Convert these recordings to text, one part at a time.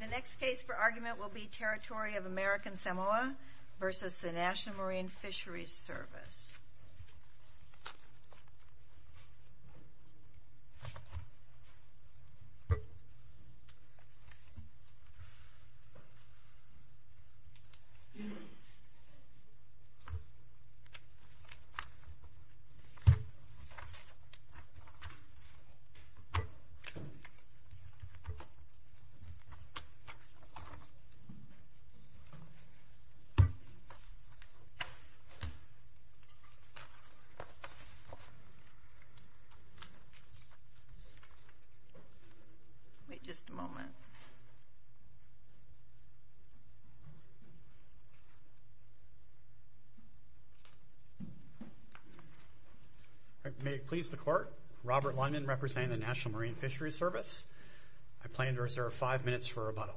The next case for argument will be Territory of American Samoa versus the National Marine Fisheries Service. May it please the Court, Robert Lyman representing the National Marine Fisheries Service. I plan to reserve five minutes for rebuttal.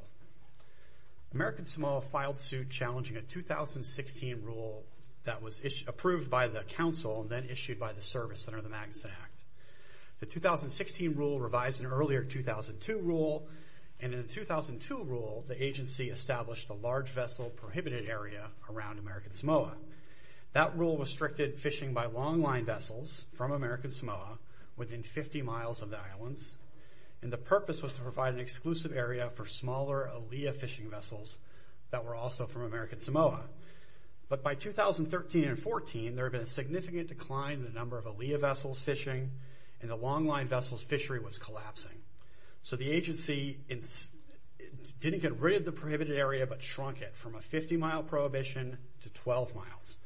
American Samoa filed suit challenging a 2016 rule that was approved by the Council and then issued by the Service Center of the Magnuson Act. The 2016 rule revised an earlier 2002 rule and in the 2002 rule the agency established a large vessel prohibited area around American Samoa. That rule restricted fishing by long line vessels from American Samoa within 50 miles of the islands and the purpose was to provide an exclusive area for smaller ALEA fishing vessels that were also from American Samoa. But by 2013 and 14 there have been a significant decline in the number of ALEA vessels fishing and the long line vessels fishery was collapsing. So the agency didn't get rid of the prohibited area but shrunk it from a 50 mile prohibition to 12 miles.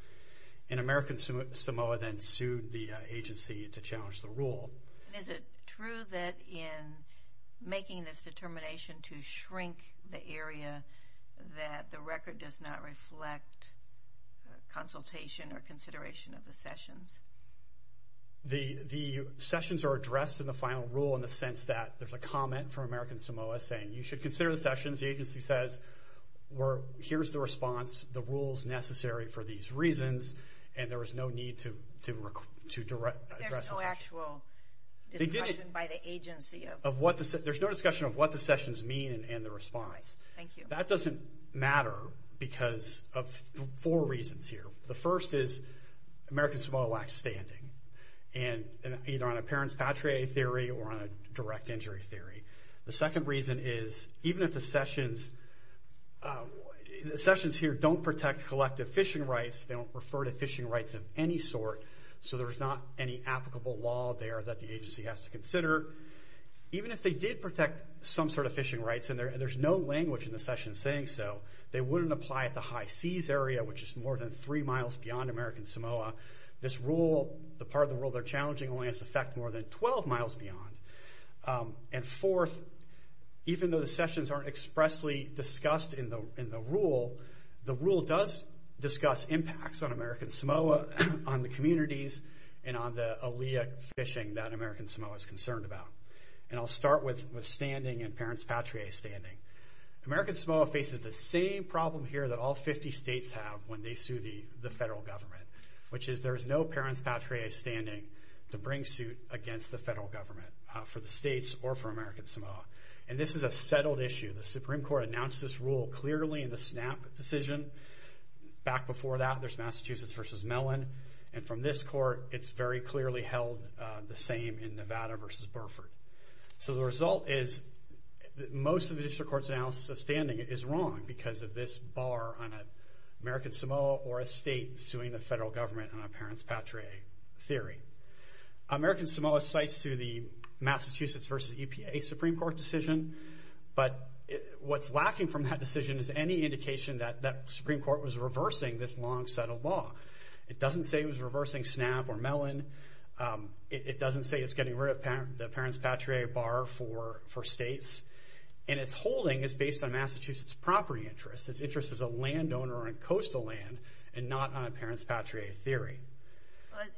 And American Samoa then sued the agency to challenge the rule. Is it true that in making this determination to shrink the area that the record does not reflect consultation or consideration of the sessions? The sessions are addressed in the final rule in the sense that there's a comment from American Samoa saying you should consider the sessions. The agency says, here's the response, the rules necessary for these There's no discussion of what the sessions mean and the response. That doesn't matter because of four reasons here. The first is American Samoa lacks standing and either on a parents patriae theory or on a direct injury theory. The second reason is even if the sessions...the sessions here don't protect collective fishing rights, they don't refer to fishing rights of any sort, so there's not any applicable law there that the agency has to consider. Even if they did protect some sort of fishing rights and there's no language in the session saying so, they wouldn't apply at the high seas area which is more than three miles beyond American Samoa. This rule, the part of the rule they're challenging only has effect more than 12 miles beyond. And fourth, even though the sessions aren't expressly discussed in the rule, the communities and on the Aleut fishing that American Samoa is concerned about. And I'll start with standing and parents patriae standing. American Samoa faces the same problem here that all 50 states have when they sue the the federal government, which is there is no parents patriae standing to bring suit against the federal government for the states or for American Samoa. And this is a settled issue. The Supreme Court announced this rule clearly in the SNAP decision. Back before that, there's Massachusetts versus Mellon. And from this court, it's very clearly held the same in Nevada versus Burford. So the result is most of the district court's analysis of standing is wrong because of this bar on American Samoa or a state suing the federal government on a parents patriae theory. American Samoa cites to the Massachusetts versus EPA Supreme Court decision, but what's lacking from that decision is any indication that that Supreme Court was reversing this long settled law. It doesn't say it was reversing SNAP or Mellon. It doesn't say it's getting rid of the parents patriae bar for states. And it's holding is based on Massachusetts property interests. Its interest is a landowner on coastal land and not on a parents patriae theory. But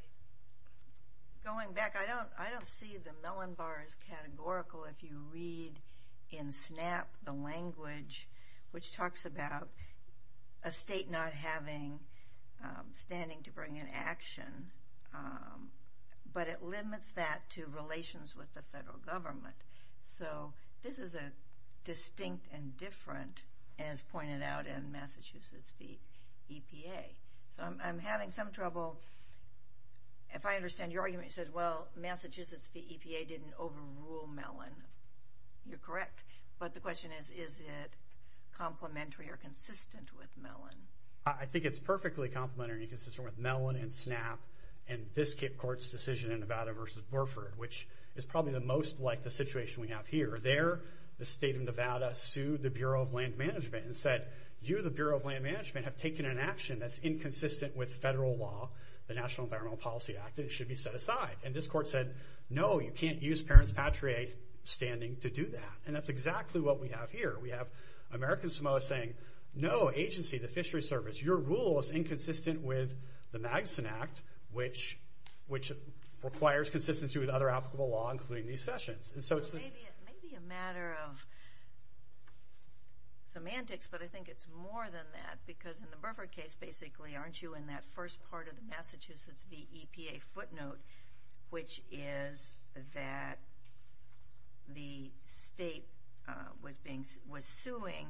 going back, I don't see the Mellon bar as categorical if you read in SNAP the language which talks about a state not having standing to bring an action. But it limits that to relations with the federal government. So this is a distinct and different, as pointed out in Massachusetts v. EPA. So I'm having some trouble. If I understand your argument, you said, well, Massachusetts v. EPA didn't overrule Mellon. You're correct. But the question is, is it complementary or consistent with Mellon? I think it's perfectly complementary and consistent with Mellon and SNAP and this court's decision in Nevada versus Burford, which is probably the most like the situation we have here. There, the state of Nevada sued the Bureau of Land Management and said, you, the Bureau of Land Management, have taken an action that's inconsistent with federal law, the National Environmental Policy Act. It should be set aside. And this court said, no, you can't use parents patriae standing to do that. And that's exactly what we have here. We have American Samoa saying, no, agency, the Fishery Service, your rule is inconsistent with the Magnuson Act, which requires consistency with other applicable law, including these sessions. So it's maybe a matter of semantics, but I think it's more than that. Because in the Burford case, basically, aren't you in that first part of the Massachusetts v. EPA footnote, which is that the state was being, was suing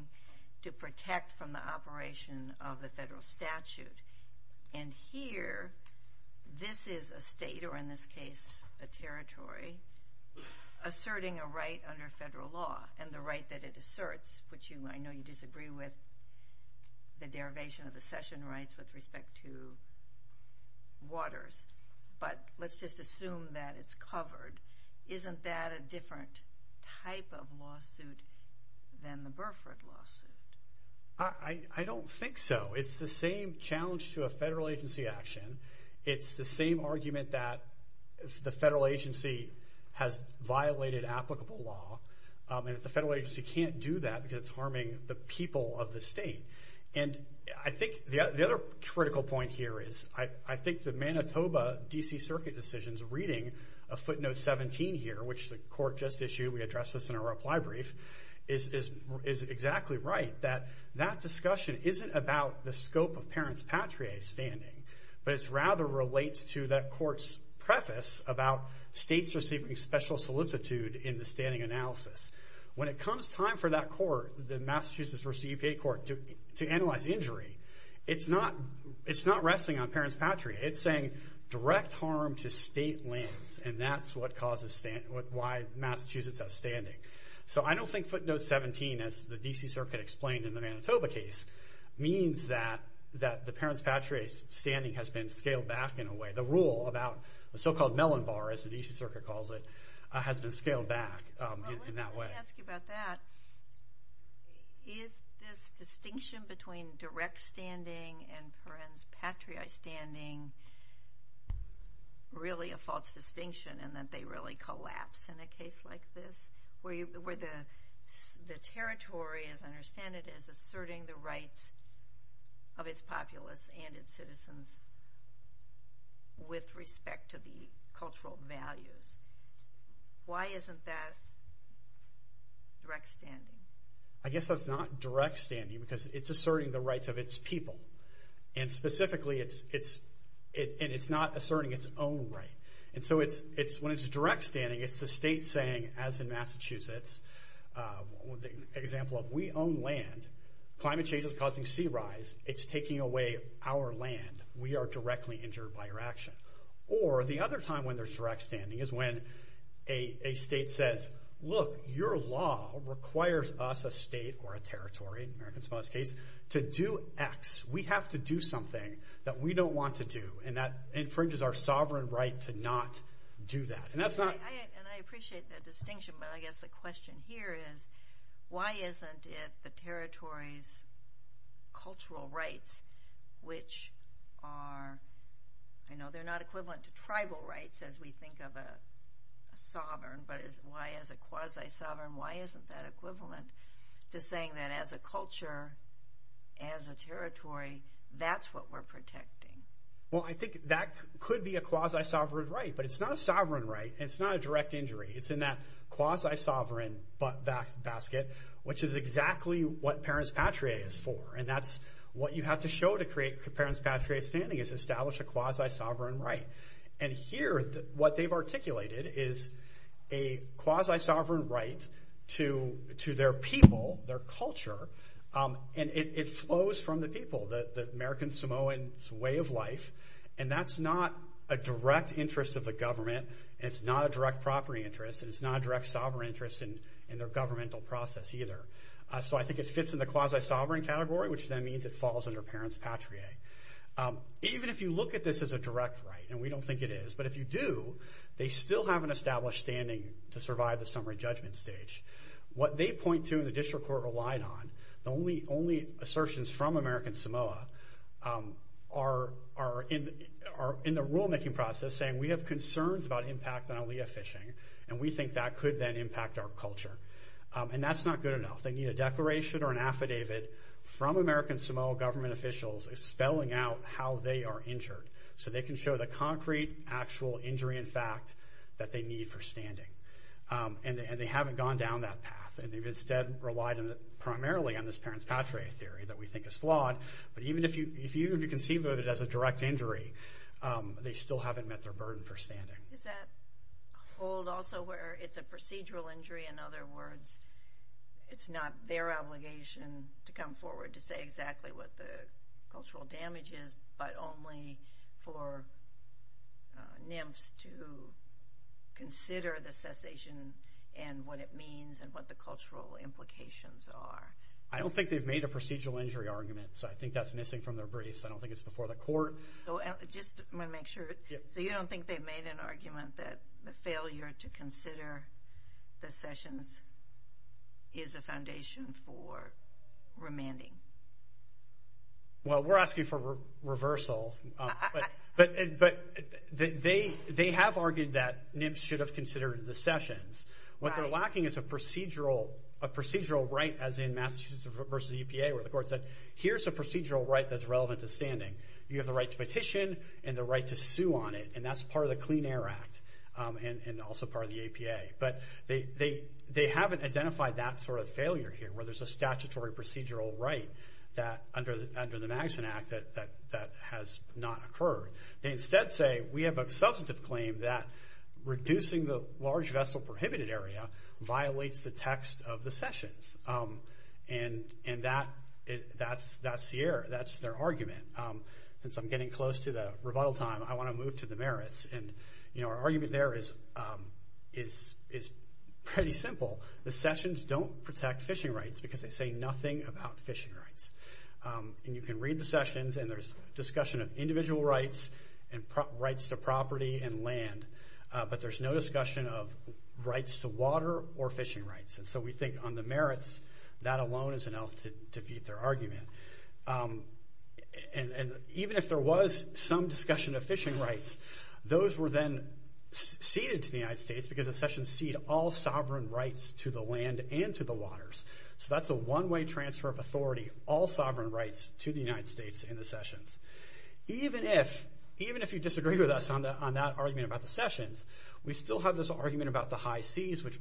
to protect from the operation of the federal statute. And here, this is a state, or in this case, a territory, asserting a right under federal law and the right that it asserts, which you, I know you disagree with the derivation of the session rights with respect to waters. But let's just assume that it's covered. Isn't that a different type of lawsuit than the Burford lawsuit? I don't think so. It's the same challenge to a federal agency action. It's the same argument that the federal agency has violated applicable law. And if the federal agency can't do that because it's harming the people of the state. And I think the other critical point here is, I think the Manitoba DC Circuit decision's reading a footnote 17 here, which the court just issued, we addressed this in our reply brief, is exactly right. That that discussion isn't about the scope of parents patriae standing, but it rather relates to that court's preface about states receiving special solicitude in the standing analysis. When it comes time for that court, the Massachusetts versus the EPA court, to analyze the injury, it's not wrestling on parents patriae. It's saying direct harm to state lands, and that's what causes... Why Massachusetts has standing. So I don't think footnote 17, as the DC Circuit explained in the Manitoba case, means that the parents patriae standing has been scaled back in a way. The rule about the so called melon bar, as the DC Circuit calls it, has been scaled back in that way. Well, let me ask you about that. Is this distinction between direct standing and parents patriae standing really a false distinction, and that they really collapse in a case like this? Where the territory, as I understand it, is asserting the rights of its populace and its citizens with respect to the cultural values. Why isn't that direct standing? I guess that's not direct standing, because it's asserting the rights of its people. And specifically, it's not asserting its own right. And so when it's direct standing, it's the state saying, as in Massachusetts, example of, we own land, climate change is causing sea rise, it's taking away our land, we are directly injured by your action. Or the other time when there's direct standing is when a state says, look, your law requires us, a state or a territory, in America's smallest case, to do X. We have to do something that we don't want to do, and that infringes our sovereign right to not do that. And that's not... And I appreciate that distinction, but I guess the question here is, why isn't it the territory's cultural rights, which are... They're not equivalent to tribal rights, as we think of a sovereign, but why as a quasi sovereign, why isn't that equivalent to saying that as a culture, as a territory, that's what we're protecting? Well, I think that could be a quasi sovereign right, but it's not a sovereign right, and it's not a direct injury. It's in that quasi sovereign basket, which is exactly what Parents Patria is for. And that's what you have to show to create Parents Patria standing, is establish a quasi sovereign right. And here, what they've articulated is a quasi sovereign right to their people, their culture, and it flows from the people, the American Samoan's way of life, and that's not a direct interest of the government, and it's not a direct property interest, and it's not a direct sovereign interest in their governmental process either. So I think it fits in the quasi sovereign category, which then means it falls under Parents Patria. Even if you look at this as a direct right, and we don't think it is, but if you do, they still have an established standing to survive the summary judgment stage. What they point to, and the district court relied on, the only assertions from American Samoa are in the rulemaking process saying, we have concerns about impact on alea fishing, and we think that could then impact our culture. And that's not good enough. They need a declaration or an affidavit from American Samoa government officials spelling out how they are injured, so they can show the concrete, actual injury in fact that they need for standing. And they haven't gone down that path, and they've instead relied primarily on this Parents Patria theory that we think is flawed, but even if you conceive of it as a direct injury, they still haven't met their burden for standing. Is that old also where it's a procedural injury? In other words, it's not their obligation to come forward to say exactly what the cultural damage is, but only for NIMFS to consider the cessation and what it means and what the cultural implications are. I don't think they've made a procedural injury argument, so I think that's missing from their briefs. I don't think it's before the court. Just wanna make sure. So you don't think they've made an argument that the failure to consider the sessions is a foundation for remanding? Well, we're asking for reversal, but they have argued that NIMFS should have considered the sessions. What they're lacking is a procedural right, as in Massachusetts versus the EPA, where the court said, here's a procedural right that's relevant to standing. You have the right to petition and the right to sue on it, and that's part of the Clean Air Act, and also part of the APA. But they haven't identified that sort of failure here, where there's a statutory procedural right under the Magson Act that has not occurred. They instead say, we have a substantive claim that reducing the large vessel prohibited area violates the text of the sessions. And that's the error. That's their argument. Since I'm getting close to the rebuttal time, I wanna move to the merits. And our argument there is pretty simple. The sessions don't protect fishing rights because they say nothing about fishing rights. And you can read the sessions, and there's discussion of individual rights and rights to property and land, but there's no discussion of rights to water or fishing rights. And so we think on the merits, that alone is enough to defeat their argument. And even if there was some discussion of fishing rights, those were then ceded to the United States because the sessions cede all runway transfer of authority, all sovereign rights to the United States in the sessions. Even if you disagree with us on that argument about the sessions, we still have this argument about the high seas, which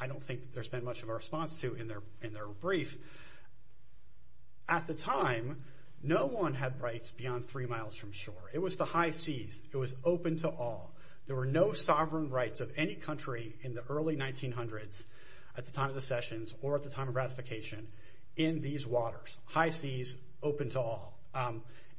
I don't think there's been much of a response to in their brief. At the time, no one had rights beyond three miles from shore. It was the high seas. It was open to all. There were no sovereign rights of any country in the early 1900s, at the time of ratification, in these waters. High seas, open to all.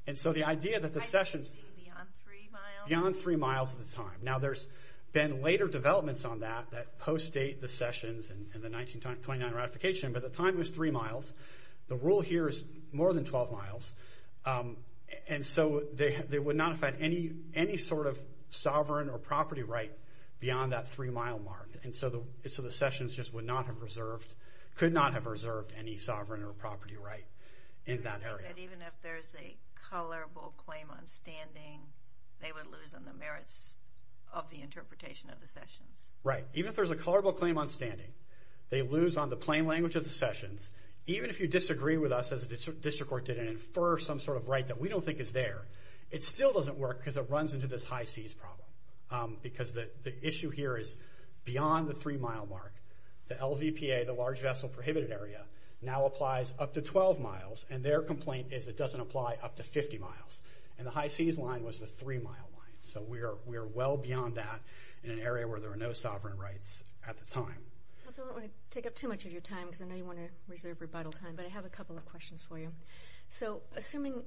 And so the idea that the sessions... High seas beyond three miles? Beyond three miles at the time. Now, there's been later developments on that, that post-date the sessions in the 1929 ratification, but the time was three miles. The rule here is more than 12 miles. And so they would not have had any sort of sovereign or property right beyond that three mile mark. And so the sessions just would not have reserved, could not have reserved any sovereign or property right in that area. And even if there's a colorable claim on standing, they would lose on the merits of the interpretation of the sessions? Right. Even if there's a colorable claim on standing, they lose on the plain language of the sessions. Even if you disagree with us, as the district court did, and infer some sort of right that we don't think is there, it still doesn't work, because it runs into this high seas problem. Because the issue here is beyond the three mile mark, the LVPA, the Large Vessel Prohibited Area, now applies up to 12 miles, and their complaint is it doesn't apply up to 50 miles. And the high seas line was the three mile line. So we're well beyond that in an area where there were no sovereign rights at the time. I don't wanna take up too much of your time, because I know you wanna reserve rebuttal time, but I have a couple of questions for you. So assuming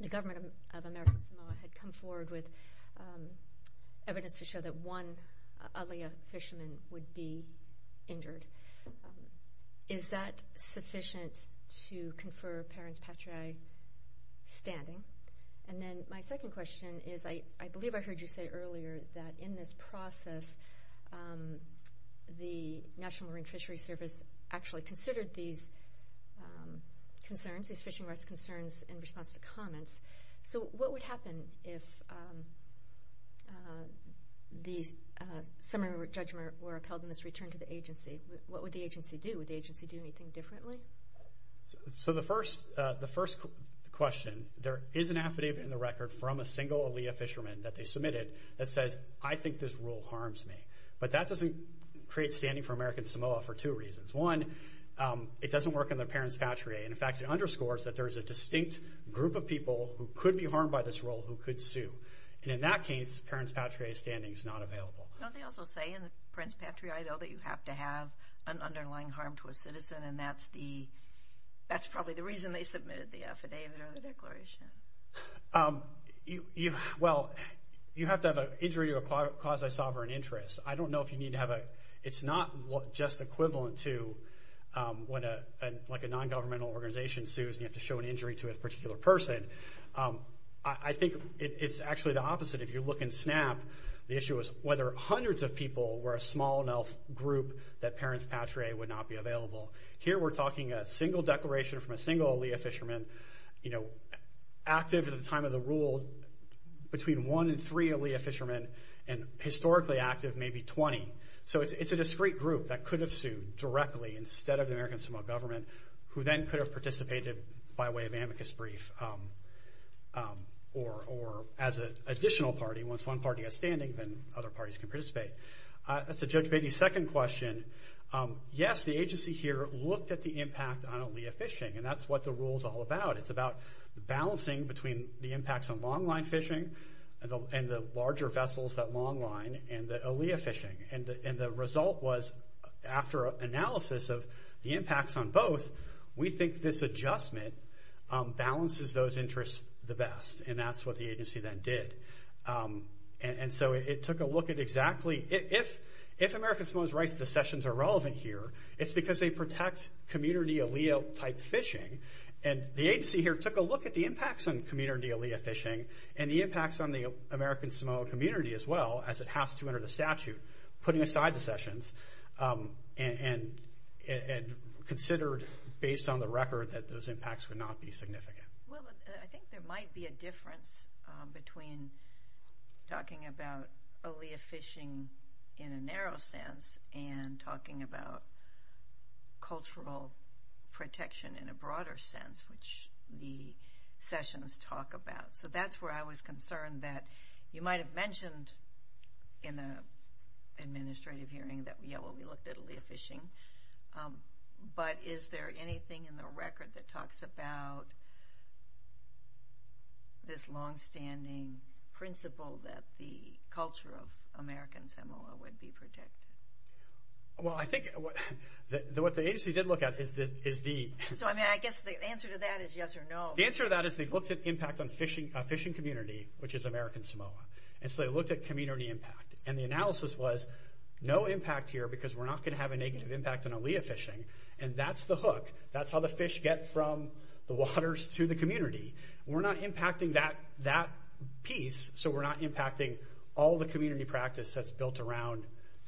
the government of American Samoa had come forward with a claim that one Aaliyah fisherman would be injured, is that sufficient to confer parents patriae standing? And then my second question is, I believe I heard you say earlier that in this process, the National Marine Fishery Service actually considered these concerns, these fishing rights concerns, in response to comments. So what would happen if the summary judgment were upheld in this return to the agency? What would the agency do? Would the agency do anything differently? So the first question, there is an affidavit in the record from a single Aaliyah fisherman that they submitted that says, I think this rule harms me. But that doesn't create standing for American Samoa for two reasons. One, it doesn't work on their parents patriae. And in fact, it underscores that there's a distinct group of people who could be harmed by this rule who could sue. And in that case, parents patriae standing is not available. Don't they also say in the parents patriae, though, that you have to have an underlying harm to a citizen, and that's probably the reason they submitted the affidavit or the declaration? Well, you have to have an injury to a quasi sovereign interest. I don't know if you need to have a... It's not just equivalent to when a non governmental organization sues and you have to show an injury to a particular person. I think it's actually the opposite. If you look in SNAP, the issue is whether hundreds of people were a small enough group that parents patriae would not be available. Here, we're talking a single declaration from a single Aaliyah fisherman, active at the time of the rule, between one and three Aaliyah fishermen, and historically active, maybe 20. So it's a discrete group that could have sued directly instead of the American Samoa government, who then could have participated by way of amicus brief, or as an additional party. Once one party has standing, then other parties can participate. To Judge Beatty's second question, yes, the agency here looked at the impact on Aaliyah fishing, and that's what the rule is all about. It's about balancing between the impacts on long line fishing and the larger vessels that long line and the Aaliyah fishing. And the result was, after analysis of the impacts on both, we think this adjustment balances those interests the best, and that's what the agency then did. And so it took a look at exactly... If American Samoa is right that the sessions are relevant here, it's because they protect community Aaliyah type fishing. And the agency here took a look at the impacts on community Aaliyah fishing, and the impacts on the American Samoa community as well, as it has to under the statute, putting aside the sessions, and considered, based on the record, that those impacts would not be significant. Well, I think there might be a difference between talking about Aaliyah fishing in a narrow sense, and talking about cultural protection in a broader sense, which the sessions talk about. So that's where I was concerned that you might have mentioned in the administrative hearing that, yeah, we looked at Aaliyah fishing, but is there anything in the record that talks about this long standing principle that the culture of American Samoa would be protected? Well, I think what the agency did look at is the... So I guess the answer to that is yes or no. The answer to that is they've looked at impact on fishing community, which is American Samoa community impact. And the analysis was, no impact here because we're not gonna have a negative impact on Aaliyah fishing, and that's the hook. That's how the fish get from the waters to the community. We're not impacting that piece, so we're not impacting all the community practice that's built around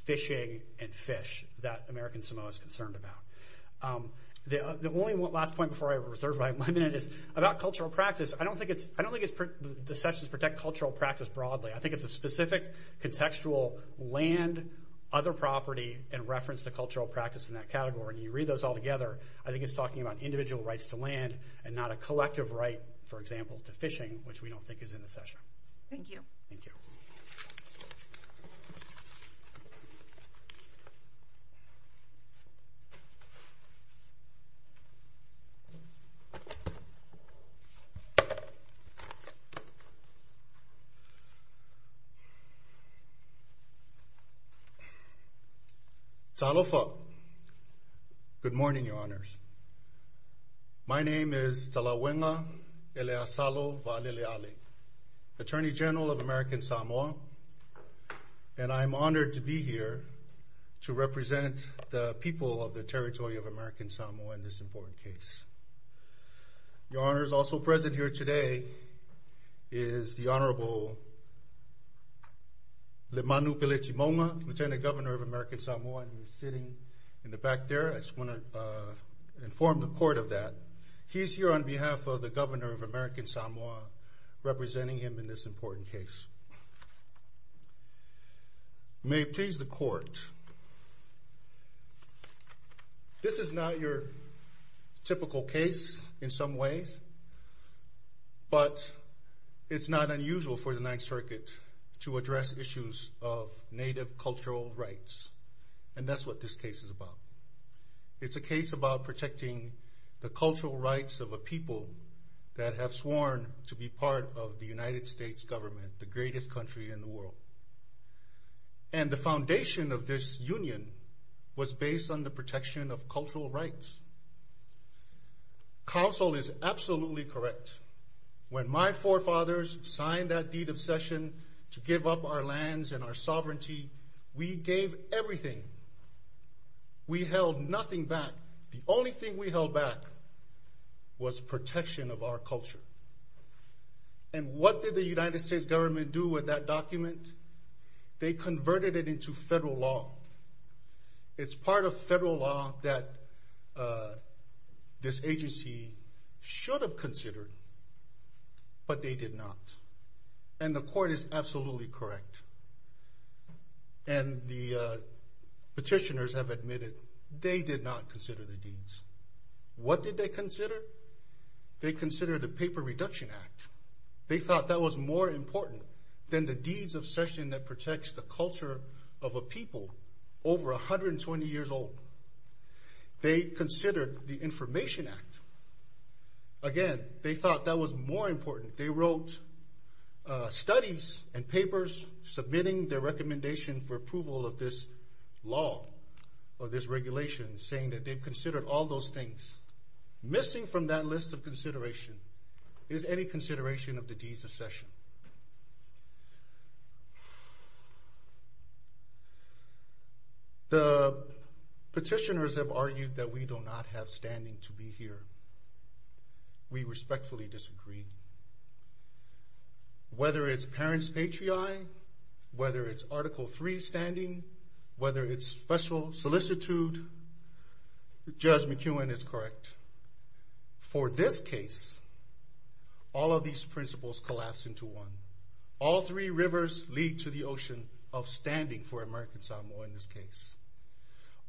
fishing and fish that American Samoa is concerned about. The only last point before I reserve my minute is about cultural practice. I don't think it's... I don't think the sessions protect cultural practice broadly. I think it's a specific contextual land, other property, and reference to cultural practice in that category. When you read those all together, I think it's talking about individual rights to land and not a collective right, for example, to fishing, which we don't think is in the session. Thank you. Thank you. Ta'alofa. Good morning, Your Honors. My name is Talawenga Eleasalo Wa'alele'ale, Attorney General of American Samoa, and I'm honored to be here to represent the people of the territory of American Samoa in this important case. Your Honors, also present here today is the Honorable Le Manu Pelechimoma, Lieutenant Governor of American Samoa, and he's sitting in the back there. I just wanna inform the court of that. He's here on behalf of the Governor of American Samoa, representing him in this case. This is not your typical case, in some ways, but it's not unusual for the Ninth Circuit to address issues of Native cultural rights, and that's what this case is about. It's a case about protecting the cultural rights of a people that have sworn to be part of the United States government, the greatest country in the world. And the foundation of this union was based on the protection of cultural rights. Counsel is absolutely correct. When my forefathers signed that deed of cession to give up our lands and our sovereignty, we gave everything. We held nothing back. The only thing we held back was protection of our culture. And what did the United States government do with that document? They converted it into federal law. It's part of federal law that this agency should have considered, but they did not. And the court is absolutely correct. And the petitioners have admitted they did not consider the deeds. What did they consider? They considered the Paper Reduction Act. They thought that was more important than the deeds of cession that protects the culture of a people over 120 years old. They considered the Information Act. Again, they thought that was more important. They wrote studies and papers submitting their recommendation for approval of this law or this regulation, saying that they've considered all those things. The petitioners have argued that we do not have standing to be here. We respectfully disagree. Whether it's parents' patriotic, whether it's Article 3 standing, whether it's special solicitude, Judge McEwen is correct. For this case, all of these principles collapse into one. All three rivers lead to the ocean of standing for American Samoa in this case.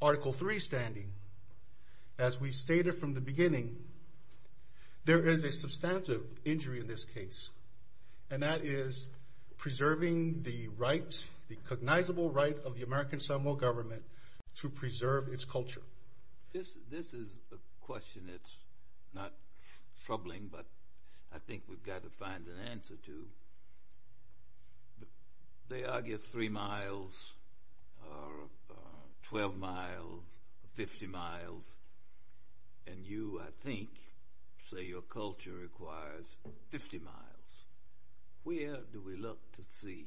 Article 3 standing, as we stated from the beginning, there is a substantive injury in this case, and that is preserving the right, the cognizable right of the American Samoa government to preserve its culture. This is a question that's not troubling, but I think we've got to find an answer to. They argue three miles, or 12 miles, or 50 miles, and you, I think, say your culture requires 50 miles. Where do we look to see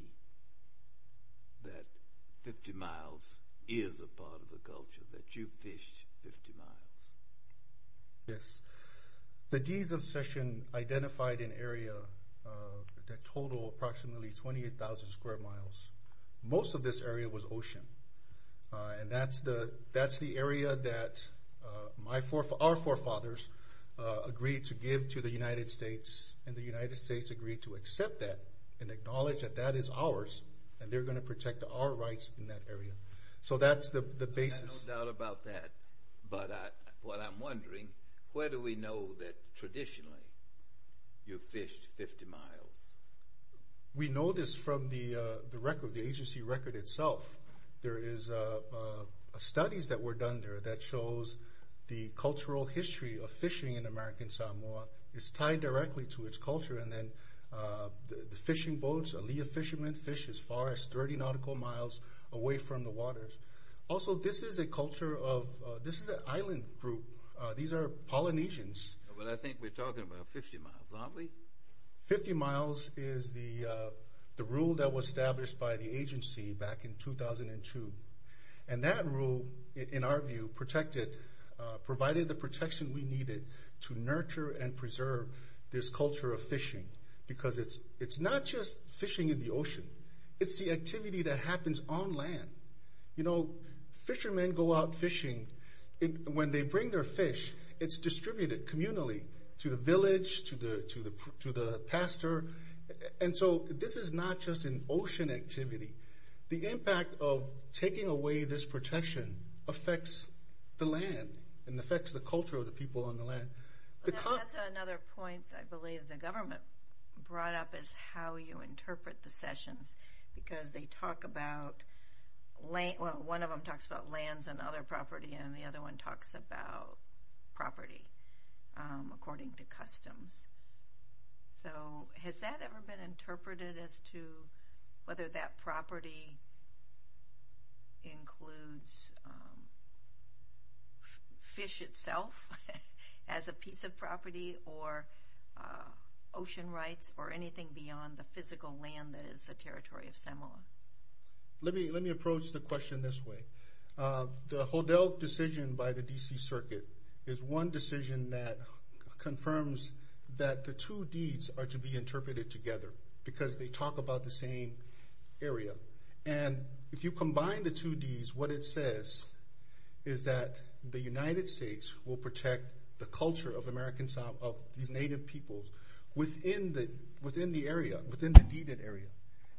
that 50 miles is a part of the culture, that you've fished 50 miles? Yes. The Deans of Session identified an area that totaled approximately 28,000 square miles. Most of this area was ocean, and that's the area that our forefathers agreed to give to the United States, and the United States agreed to accept that and acknowledge that that is ours, and they're going to protect our rights in that area. So that's the basis. I have no doubt about that, but what I'm wondering, where do we know that traditionally you've fished 50 miles? We know this from the agency record itself. There is studies that were done there that shows the cultural history of fishing in American Samoa is tied directly to its culture, and then the fishing boats, alia fishermen fish as far as 30 nautical miles away from the waters. Also, this is a culture of, this is an island group. These are Polynesians. But I think we're talking about 50 miles, aren't we? 50 miles is the rule that was established by the agency back in 2002, and that rule, in our view, protected, provided the protection we needed to nurture and preserve this culture of fishing, because it's not just fishing in the ocean. It's the activity that happens on land. You know, fishermen go out fishing. When they bring their fish, it's distributed communally to the village, to the pastor, and so this is not just an ocean activity. The impact of taking away this protection affects the land and affects the culture of the people on the land. That's another point I believe the government brought up, is how you interpret the sessions, because they talk about, well, one of them talks about lands and other property, and the other one talks about property according to customs. So, has that ever been interpreted as to whether that property includes fish itself as a piece of property, or ocean rights, or anything beyond the physical land that is the territory of Samoa? Let me approach the question this way. The Hodel decision by the D.C. Circuit is one decision that confirms that the two deeds are to be interpreted together, because they talk about the same area, and if you combine the two deeds, what it says is that the United States will protect the culture of these Native peoples within the area, within the deeded area,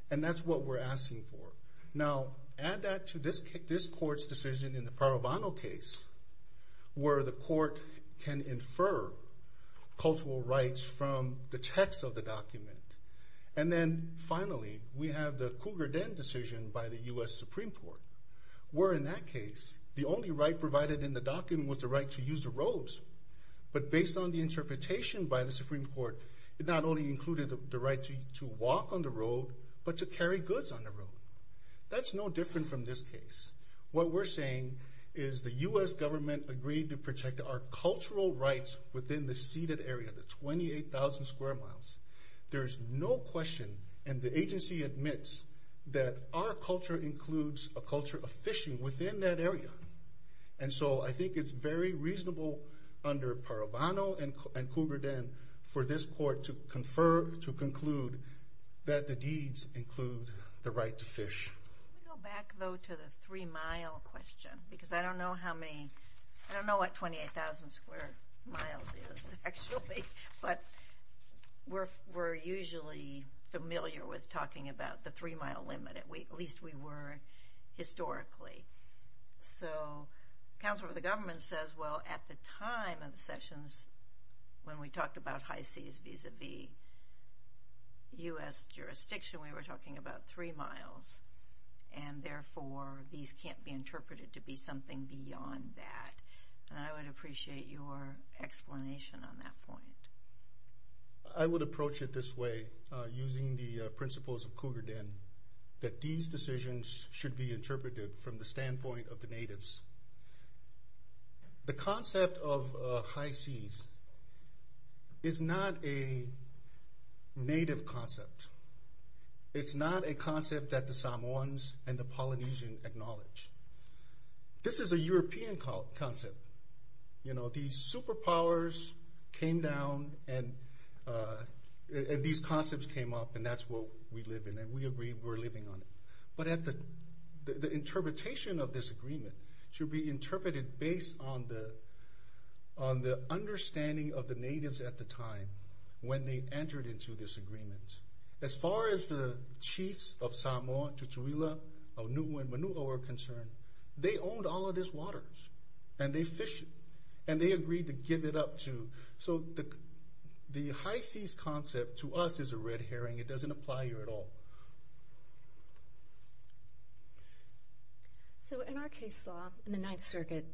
and that's what we're asking for. Now, add that to this court's decision in the Parovano case, where the court can infer cultural rights from the text of the document, and then finally, we have the Cougar Den decision by the U.S. Supreme Court, where in that case, the only right provided in the document was the right to use the roads, but based on the interpretation by the Supreme Court, it not only included the right to walk on the road, but to carry goods on the road. That's no different from this case. What we're saying is the U.S. government agreed to protect our cultural rights within the ceded area, the 28,000 square miles. There's no question, and the agency admits that our culture includes a culture of fishing within that area, and so I think it's very reasonable under Parovano and Cougar Den for this court to confer, to conclude that the deeds include the right to fish. Can we go back, though, to the three-mile question, because I don't know how many, I don't know what 28,000 square miles is, actually, but we're usually familiar with talking about the three-mile limit. At least, we were historically. So, counsel for the government says, well, at the time of the sessions, when we talked about high seas vis-a-vis U.S. jurisdiction, we were talking about three miles, and therefore, these can't be interpreted to be something beyond that, and I would appreciate your explanation on that point. I would approach it this way, using the principles of Cougar Den, that these decisions should be interpreted from the standpoint of the natives. The concept of high seas is not a native concept. It's not a concept that the Samoans and the Polynesian acknowledge. This is a European concept. These superpowers came down, and these concepts came up, and that's what we live in, and we agree we're living on it. But the interpretation of this agreement should be interpreted based on the understanding of the natives at the time when they entered into this agreement. As far as the chiefs of Samoa, Tutuila, Aonua, and Manua are concerned, they owned all of these waters, and they fished, and they agreed to give it up, too. So the high seas concept, to us, is a red herring. It doesn't apply here at all. So in our case law, in the Ninth Circuit,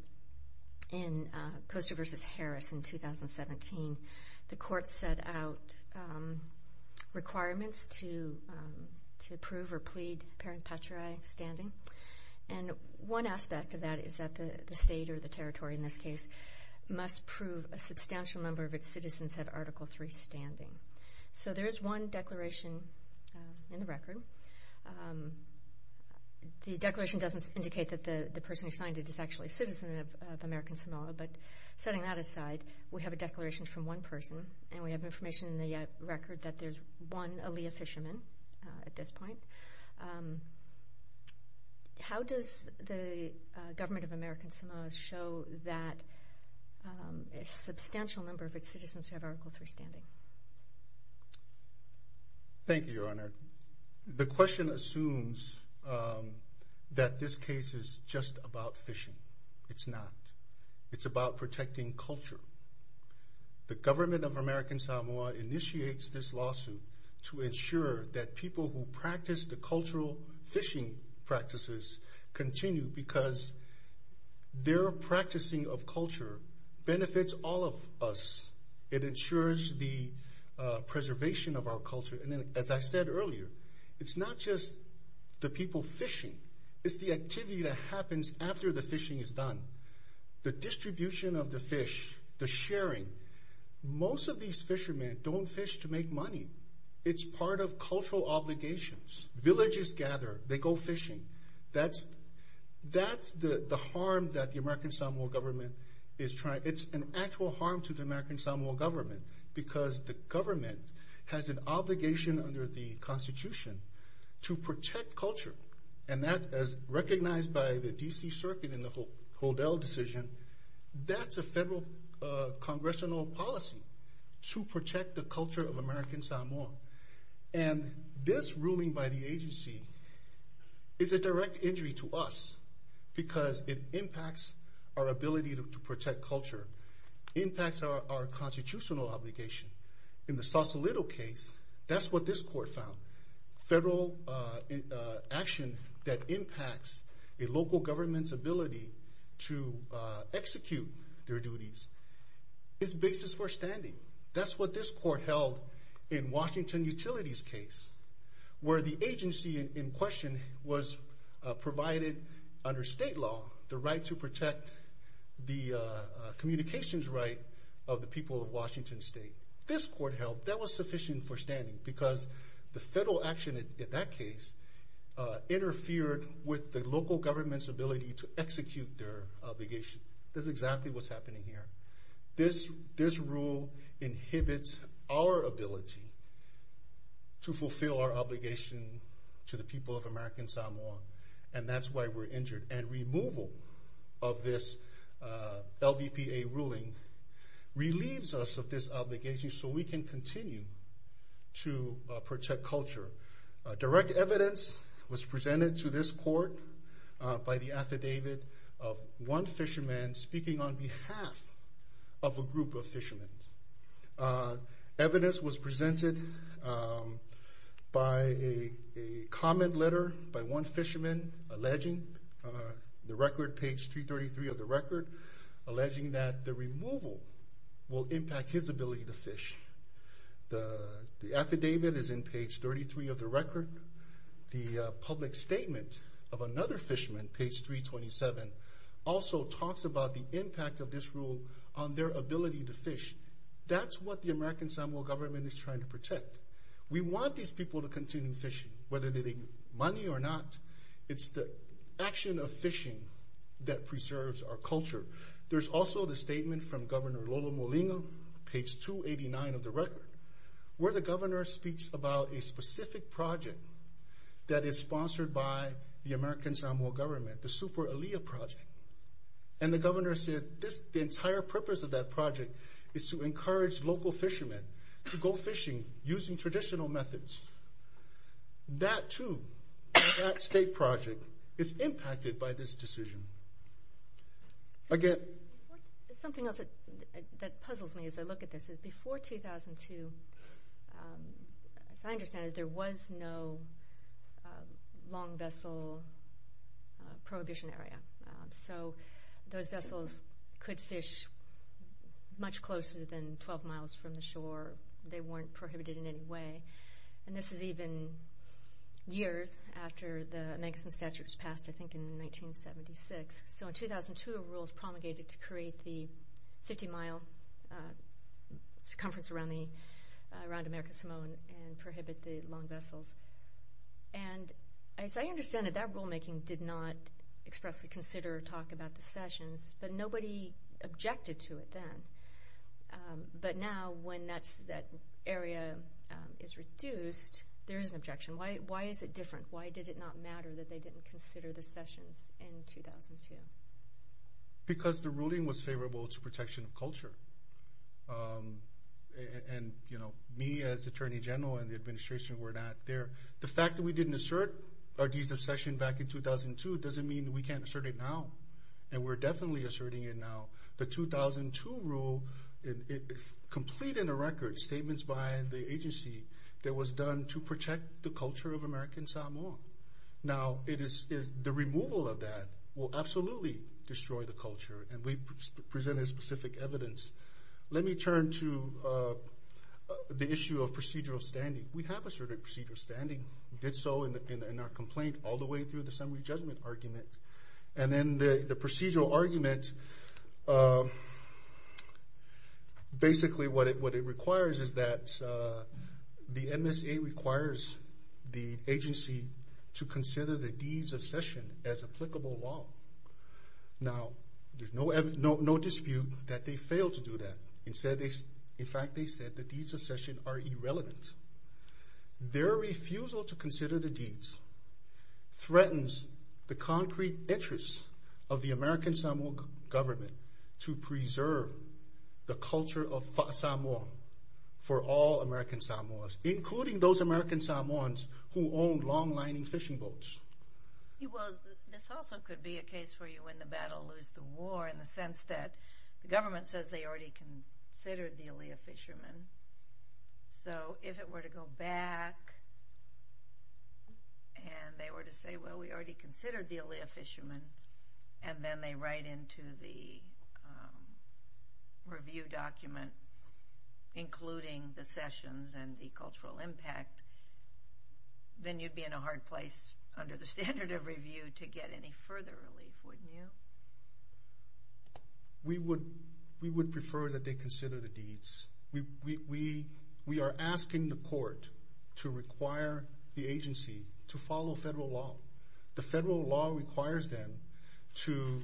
in Coaster v. Harris in 2017, the court set out requirements to approve or plead parent patriae standing, and one aspect of that is that the territory, in this case, must prove a substantial number of its citizens have Article III standing. So there is one declaration in the record. The declaration doesn't indicate that the person who signed it is actually a citizen of American Samoa, but setting that aside, we have a declaration from one person, and we have information in the record that there's one Alea fisherman at this so that it's a substantial number of its citizens who have Article III standing. Thank you, Your Honor. The question assumes that this case is just about fishing. It's not. It's about protecting culture. The government of American Samoa initiates this lawsuit to ensure that people who practice the cultural fishing practices continue because their practicing of culture benefits all of us. It ensures the preservation of our culture, and as I said earlier, it's not just the people fishing. It's the activity that happens after the fishing is done. The distribution of the fish, the sharing. Most of these fishermen don't fish to make money. It's part of cultural obligations. Villages gather. They go fishing. That's the harm that the American Samoa government is trying. It's an actual harm to the American Samoa government because the government has an obligation under the Constitution to protect culture, and that, as recognized by the D.C. Circuit in the Hodel decision, that's a federal congressional policy to protect the culture of American Samoa, and this ruling by the agency is a direct injury to us because it impacts our ability to protect culture. It impacts our constitutional obligation. In the Sausalito case, that's what this court found. Federal action that impacts a local government's ability to execute their duties is basis for standing. That's what this court held in Washington Utilities' case, where the agency in question was provided under state law the right to protect the communications right of the people of Washington State. This court held that was sufficient for standing because the federal action in that case interfered with the local government's ability to execute their obligation. This is exactly what's happening here. This rule inhibits our ability to fulfill our obligation to the people of American Samoa, and that's why we're injured, and removal of this LVPA ruling relieves us of this obligation so we can continue to protect culture. Direct evidence was presented to this court by the affidavit of one fisherman speaking on behalf of a group of fishermen. Evidence was presented by a comment letter by one fisherman alleging the record, page 333 of the record, alleging that the removal will impact his ability to fish. The affidavit is in page 33 of the record. The public statement of another fisherman, page 327, also talks about the impact of this rule on their ability to fish. That's what the American Samoa government is trying to protect. We want these people to continue fishing, whether they need money or not. It's the action of fishing that preserves our culture. There's also the statement from Governor Lolo Molina, page 289 of the record, where the governor speaks about a specific project that is sponsored by the American Samoa government, the Super Alia project, and the governor said the entire purpose of that project is to encourage local fishermen to go fishing using traditional methods. That too, that state project, is impacted by this decision. Again... Something else that puzzles me as I look at this is before 2002, as I understand it, there was no long vessel prohibition area. So those vessels could fish much closer than 12 miles from the coast. This is even years after the Manxon Statute was passed, I think in 1976. So in 2002, a rule was promulgated to create the 50-mile circumference around America Samoa and prohibit the long vessels. And as I understand it, that rulemaking did not expressly consider or talk about the sessions, but nobody objected to it then. But now, when that area is reduced, there is an objection. Why is it different? Why did it not matter that they didn't consider the sessions in 2002? Because the ruling was favorable to protection of culture. And, you know, me as attorney general and the administration were not there. The fact that we didn't assert our rule now, and we're definitely asserting it now, the 2002 rule, it completed a record, statements by the agency, that was done to protect the culture of American Samoa. Now, the removal of that will absolutely destroy the culture, and we presented specific evidence. Let me turn to the issue of procedural standing. We have asserted procedural standing. We did so in our complaint all the way through the summary judgment argument. And then the procedural argument, basically what it requires is that the MSA requires the agency to consider the deeds of session as applicable law. Now, there's no dispute that they failed to do that. In fact, they said the deeds of session are irrelevant. Their refusal to consider the deeds threatens the concrete interests of the American Samoa government to preserve the culture of Samoa for all American Samoans, including those American Samoans who own long lining fishing boats. Well, this also could be a case for you when the battle lose the war in the sense that the government says they already considered the Aaliyah fishermen. So, if it were to go back and they were to say, well, we already considered the Aaliyah fishermen, and then they write into the review document, including the sessions and the cultural impact, then you'd be in a hard place under the standard of review to get any further relief, wouldn't you? We would prefer that they consider the deeds. We are asking the court to require the agency to follow federal law. The federal law requires them to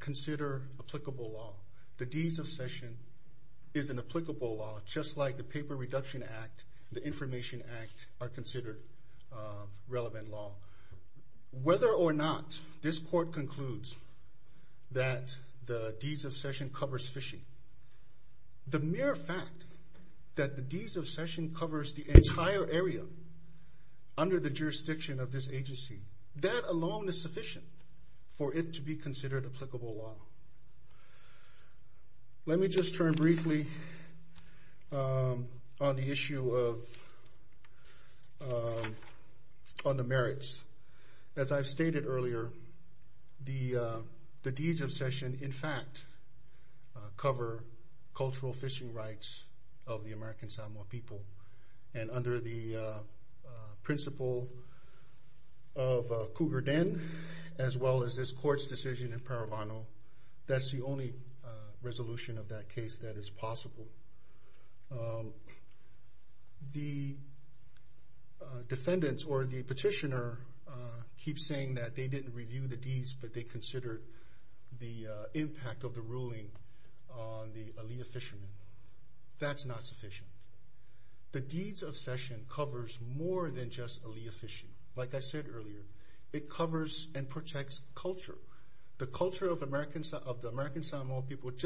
consider applicable law. The deeds of session is an applicable law, just like the Paper Reduction Act, the Information Act are considered relevant law. Whether or not this court concludes that the deeds of session covers fishing, the mere fact that the deeds of session covers the entire area under the jurisdiction of this agency, that alone is sufficient for it to be considered applicable law. So, let me just turn briefly on the issue of, on the merits. As I've stated earlier, the deeds of session, in fact, cover cultural fishing rights of the American Samoa people. And under the principle of Cougar Den, as well as this court's decision in Paravano, that's the only resolution of that case that is possible. The defendants or the petitioner keep saying that they didn't review the deeds, but they considered the impact of the ruling on the Aaliyah fishermen. That's not sufficient. The deeds of session covers more than just Aaliyah fishing. Like I said earlier, it covers and protects culture. The culture of the American Samoa people, it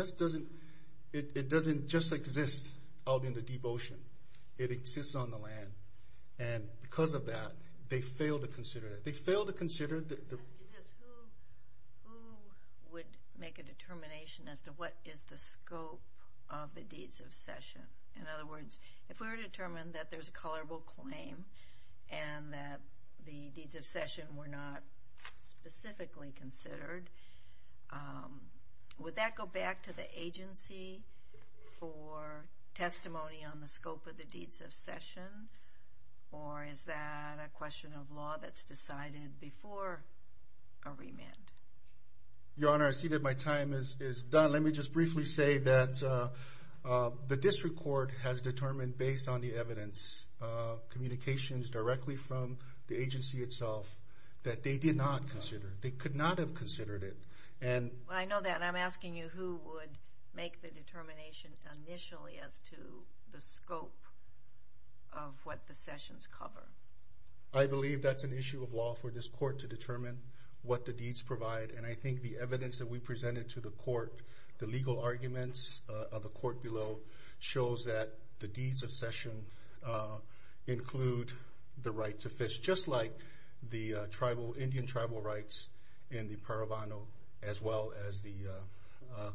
doesn't just exist out in the deep ocean. It exists on the land. And because of that, they fail to consider Because who would make a determination as to what is the scope of the deeds of session? In other words, if we were determined that there's a colorable claim and that the deeds of session were not specifically considered, would that go back to the agency for testimony on the scope of deeds of session? Or is that a question of law that's decided before a remand? Your Honor, I see that my time is done. Let me just briefly say that the district court has determined based on the evidence, communications directly from the agency itself, that they did not consider. They could not have considered it. I know that, and I'm asking you who would make the determination initially as to the scope of what the sessions cover. I believe that's an issue of law for this court to determine what the deeds provide, and I think the evidence that we presented to the court, the legal arguments of the court below, shows that the deeds of session include the right to fish, just like the Indian tribal rights in the Paravano as well as the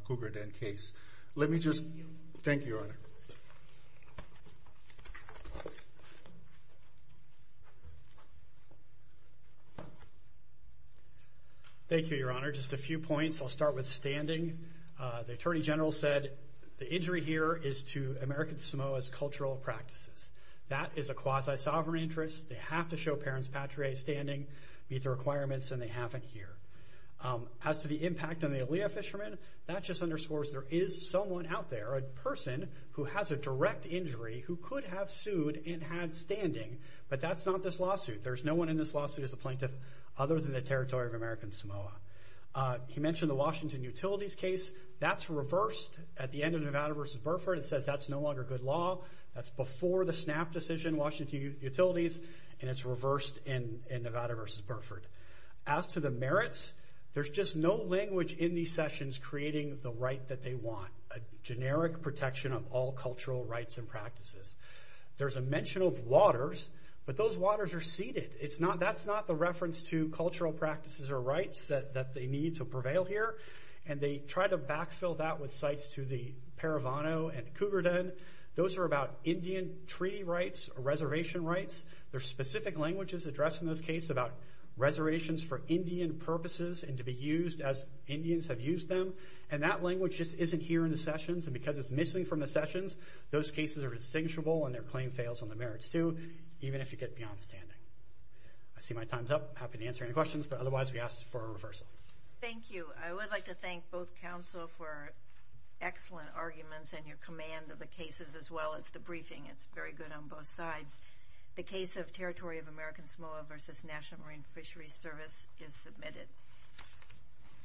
Cougar Den case. Thank you, Your Honor. Thank you, Your Honor. Just a few points. I'll start with standing. The Attorney General said the injury here is to American Samoa's cultural practices. That is a quasi-sovereign interest. They have to show parents patrie standing, meet the requirements, and they haven't here. As to the impact on the Alea fishermen, that just underscores there is someone out there, a person who has a direct injury, who could have sued and had standing, but that's not this lawsuit. There's no one in this lawsuit who's a plaintiff other than the territory of American Samoa. He mentioned the Washington Utilities case. That's reversed at the end of Nevada versus Burford. It says that's no longer good law. That's before the SNAP decision, Washington Utilities, and it's reversed in Nevada versus Burford. As to the merits, there's just no language in these sessions creating the right that they want, a generic protection of all cultural rights and practices. There's a mention of waters, but those waters are seeded. That's not the reference to cultural practices or rights that they need to prevail here, and they try to backfill that with sites to the Paravano and Cougar Den. Those are about Indian treaty rights, reservation rights. There's specific languages addressed in those cases about reservations for Indian purposes and to be used as Indians have used them, and that language just isn't here in the sessions, and because it's missing from the sessions, those cases are distinguishable, and their claim fails on the merits too, even if you get beyond standing. I see my time's up. Happy to answer any questions, but otherwise, we ask for a reversal. Thank you. I would like to thank both Council for excellent arguments and your command of the cases as well as the briefing. It's very good on both sides. The case of Territory of American Samoa versus National Marine Fisheries Service is submitted.